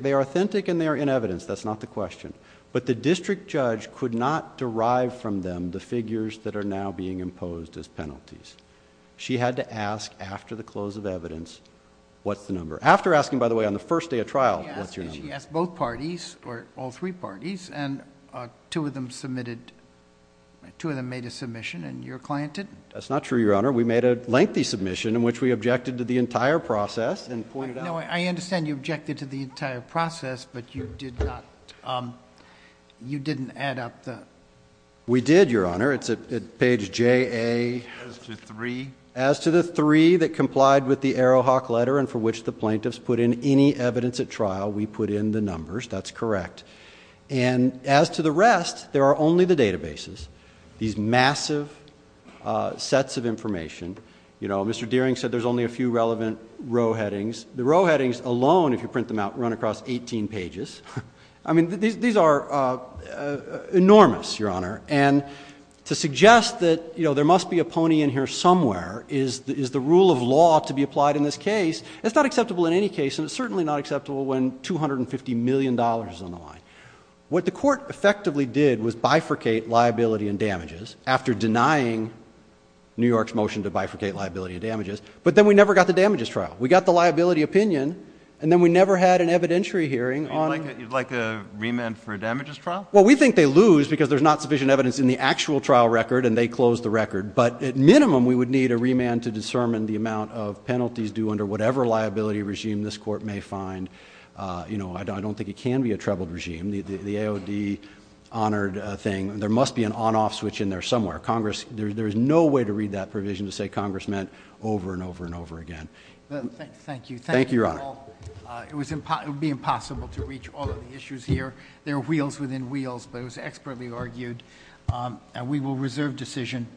and they are in evidence. That's not the question, but the district judge could not derive from them the figures that are now being imposed as penalties. She had to ask after the close of evidence, what's the number? After asking, by the way, on the first day of trial, what's your number? She asked both parties or all three parties and two of them made a submission and your client didn't? That's not true, Your Honor. We made a lengthy submission in which we objected to the entire process and pointed out... I understand you objected to the entire process, but you did not... you didn't add up the... We did, Your Honor. It's at page JA... As to the three? As to the three that complied with the Arrowhawk letter and for which the plaintiffs put in any evidence at trial, we put in the numbers. That's correct. And as to the rest, there are only the databases, these massive sets of information. You know, Mr. Dearing said there's only a few relevant row headings. The row headings alone, if you print them out, run across eighteen pages. I mean, these are enormous, Your Honor, and to suggest that there must be a pony in here somewhere is the rule of law to be applied in this case. It's not acceptable in any case and it's certainly not acceptable when $250 million is on the line. What the court effectively did was bifurcate liability and damages after denying New York's motion to bifurcate liability and damages, but then we never got the damages trial. We got the liability opinion and then we never had an evidentiary hearing on... You'd like a remand for a damages trial? Well, we think they lose because there's not sufficient evidence in the actual trial record and they closed the record. But at minimum, we would need a remand to discern the amount of penalties due under whatever liability regime this Court may find. You know, I don't think it can be a trebled regime. The AOD honored thing, there must be an on-off switch in there somewhere. Congress, there's no way to read that provision to say Congress meant over and over and over again. Thank you. Thank you, Your Honor. It would be impossible to reach all of the issues here. There are wheels within wheels, but it was expertly argued and we will reserve decision.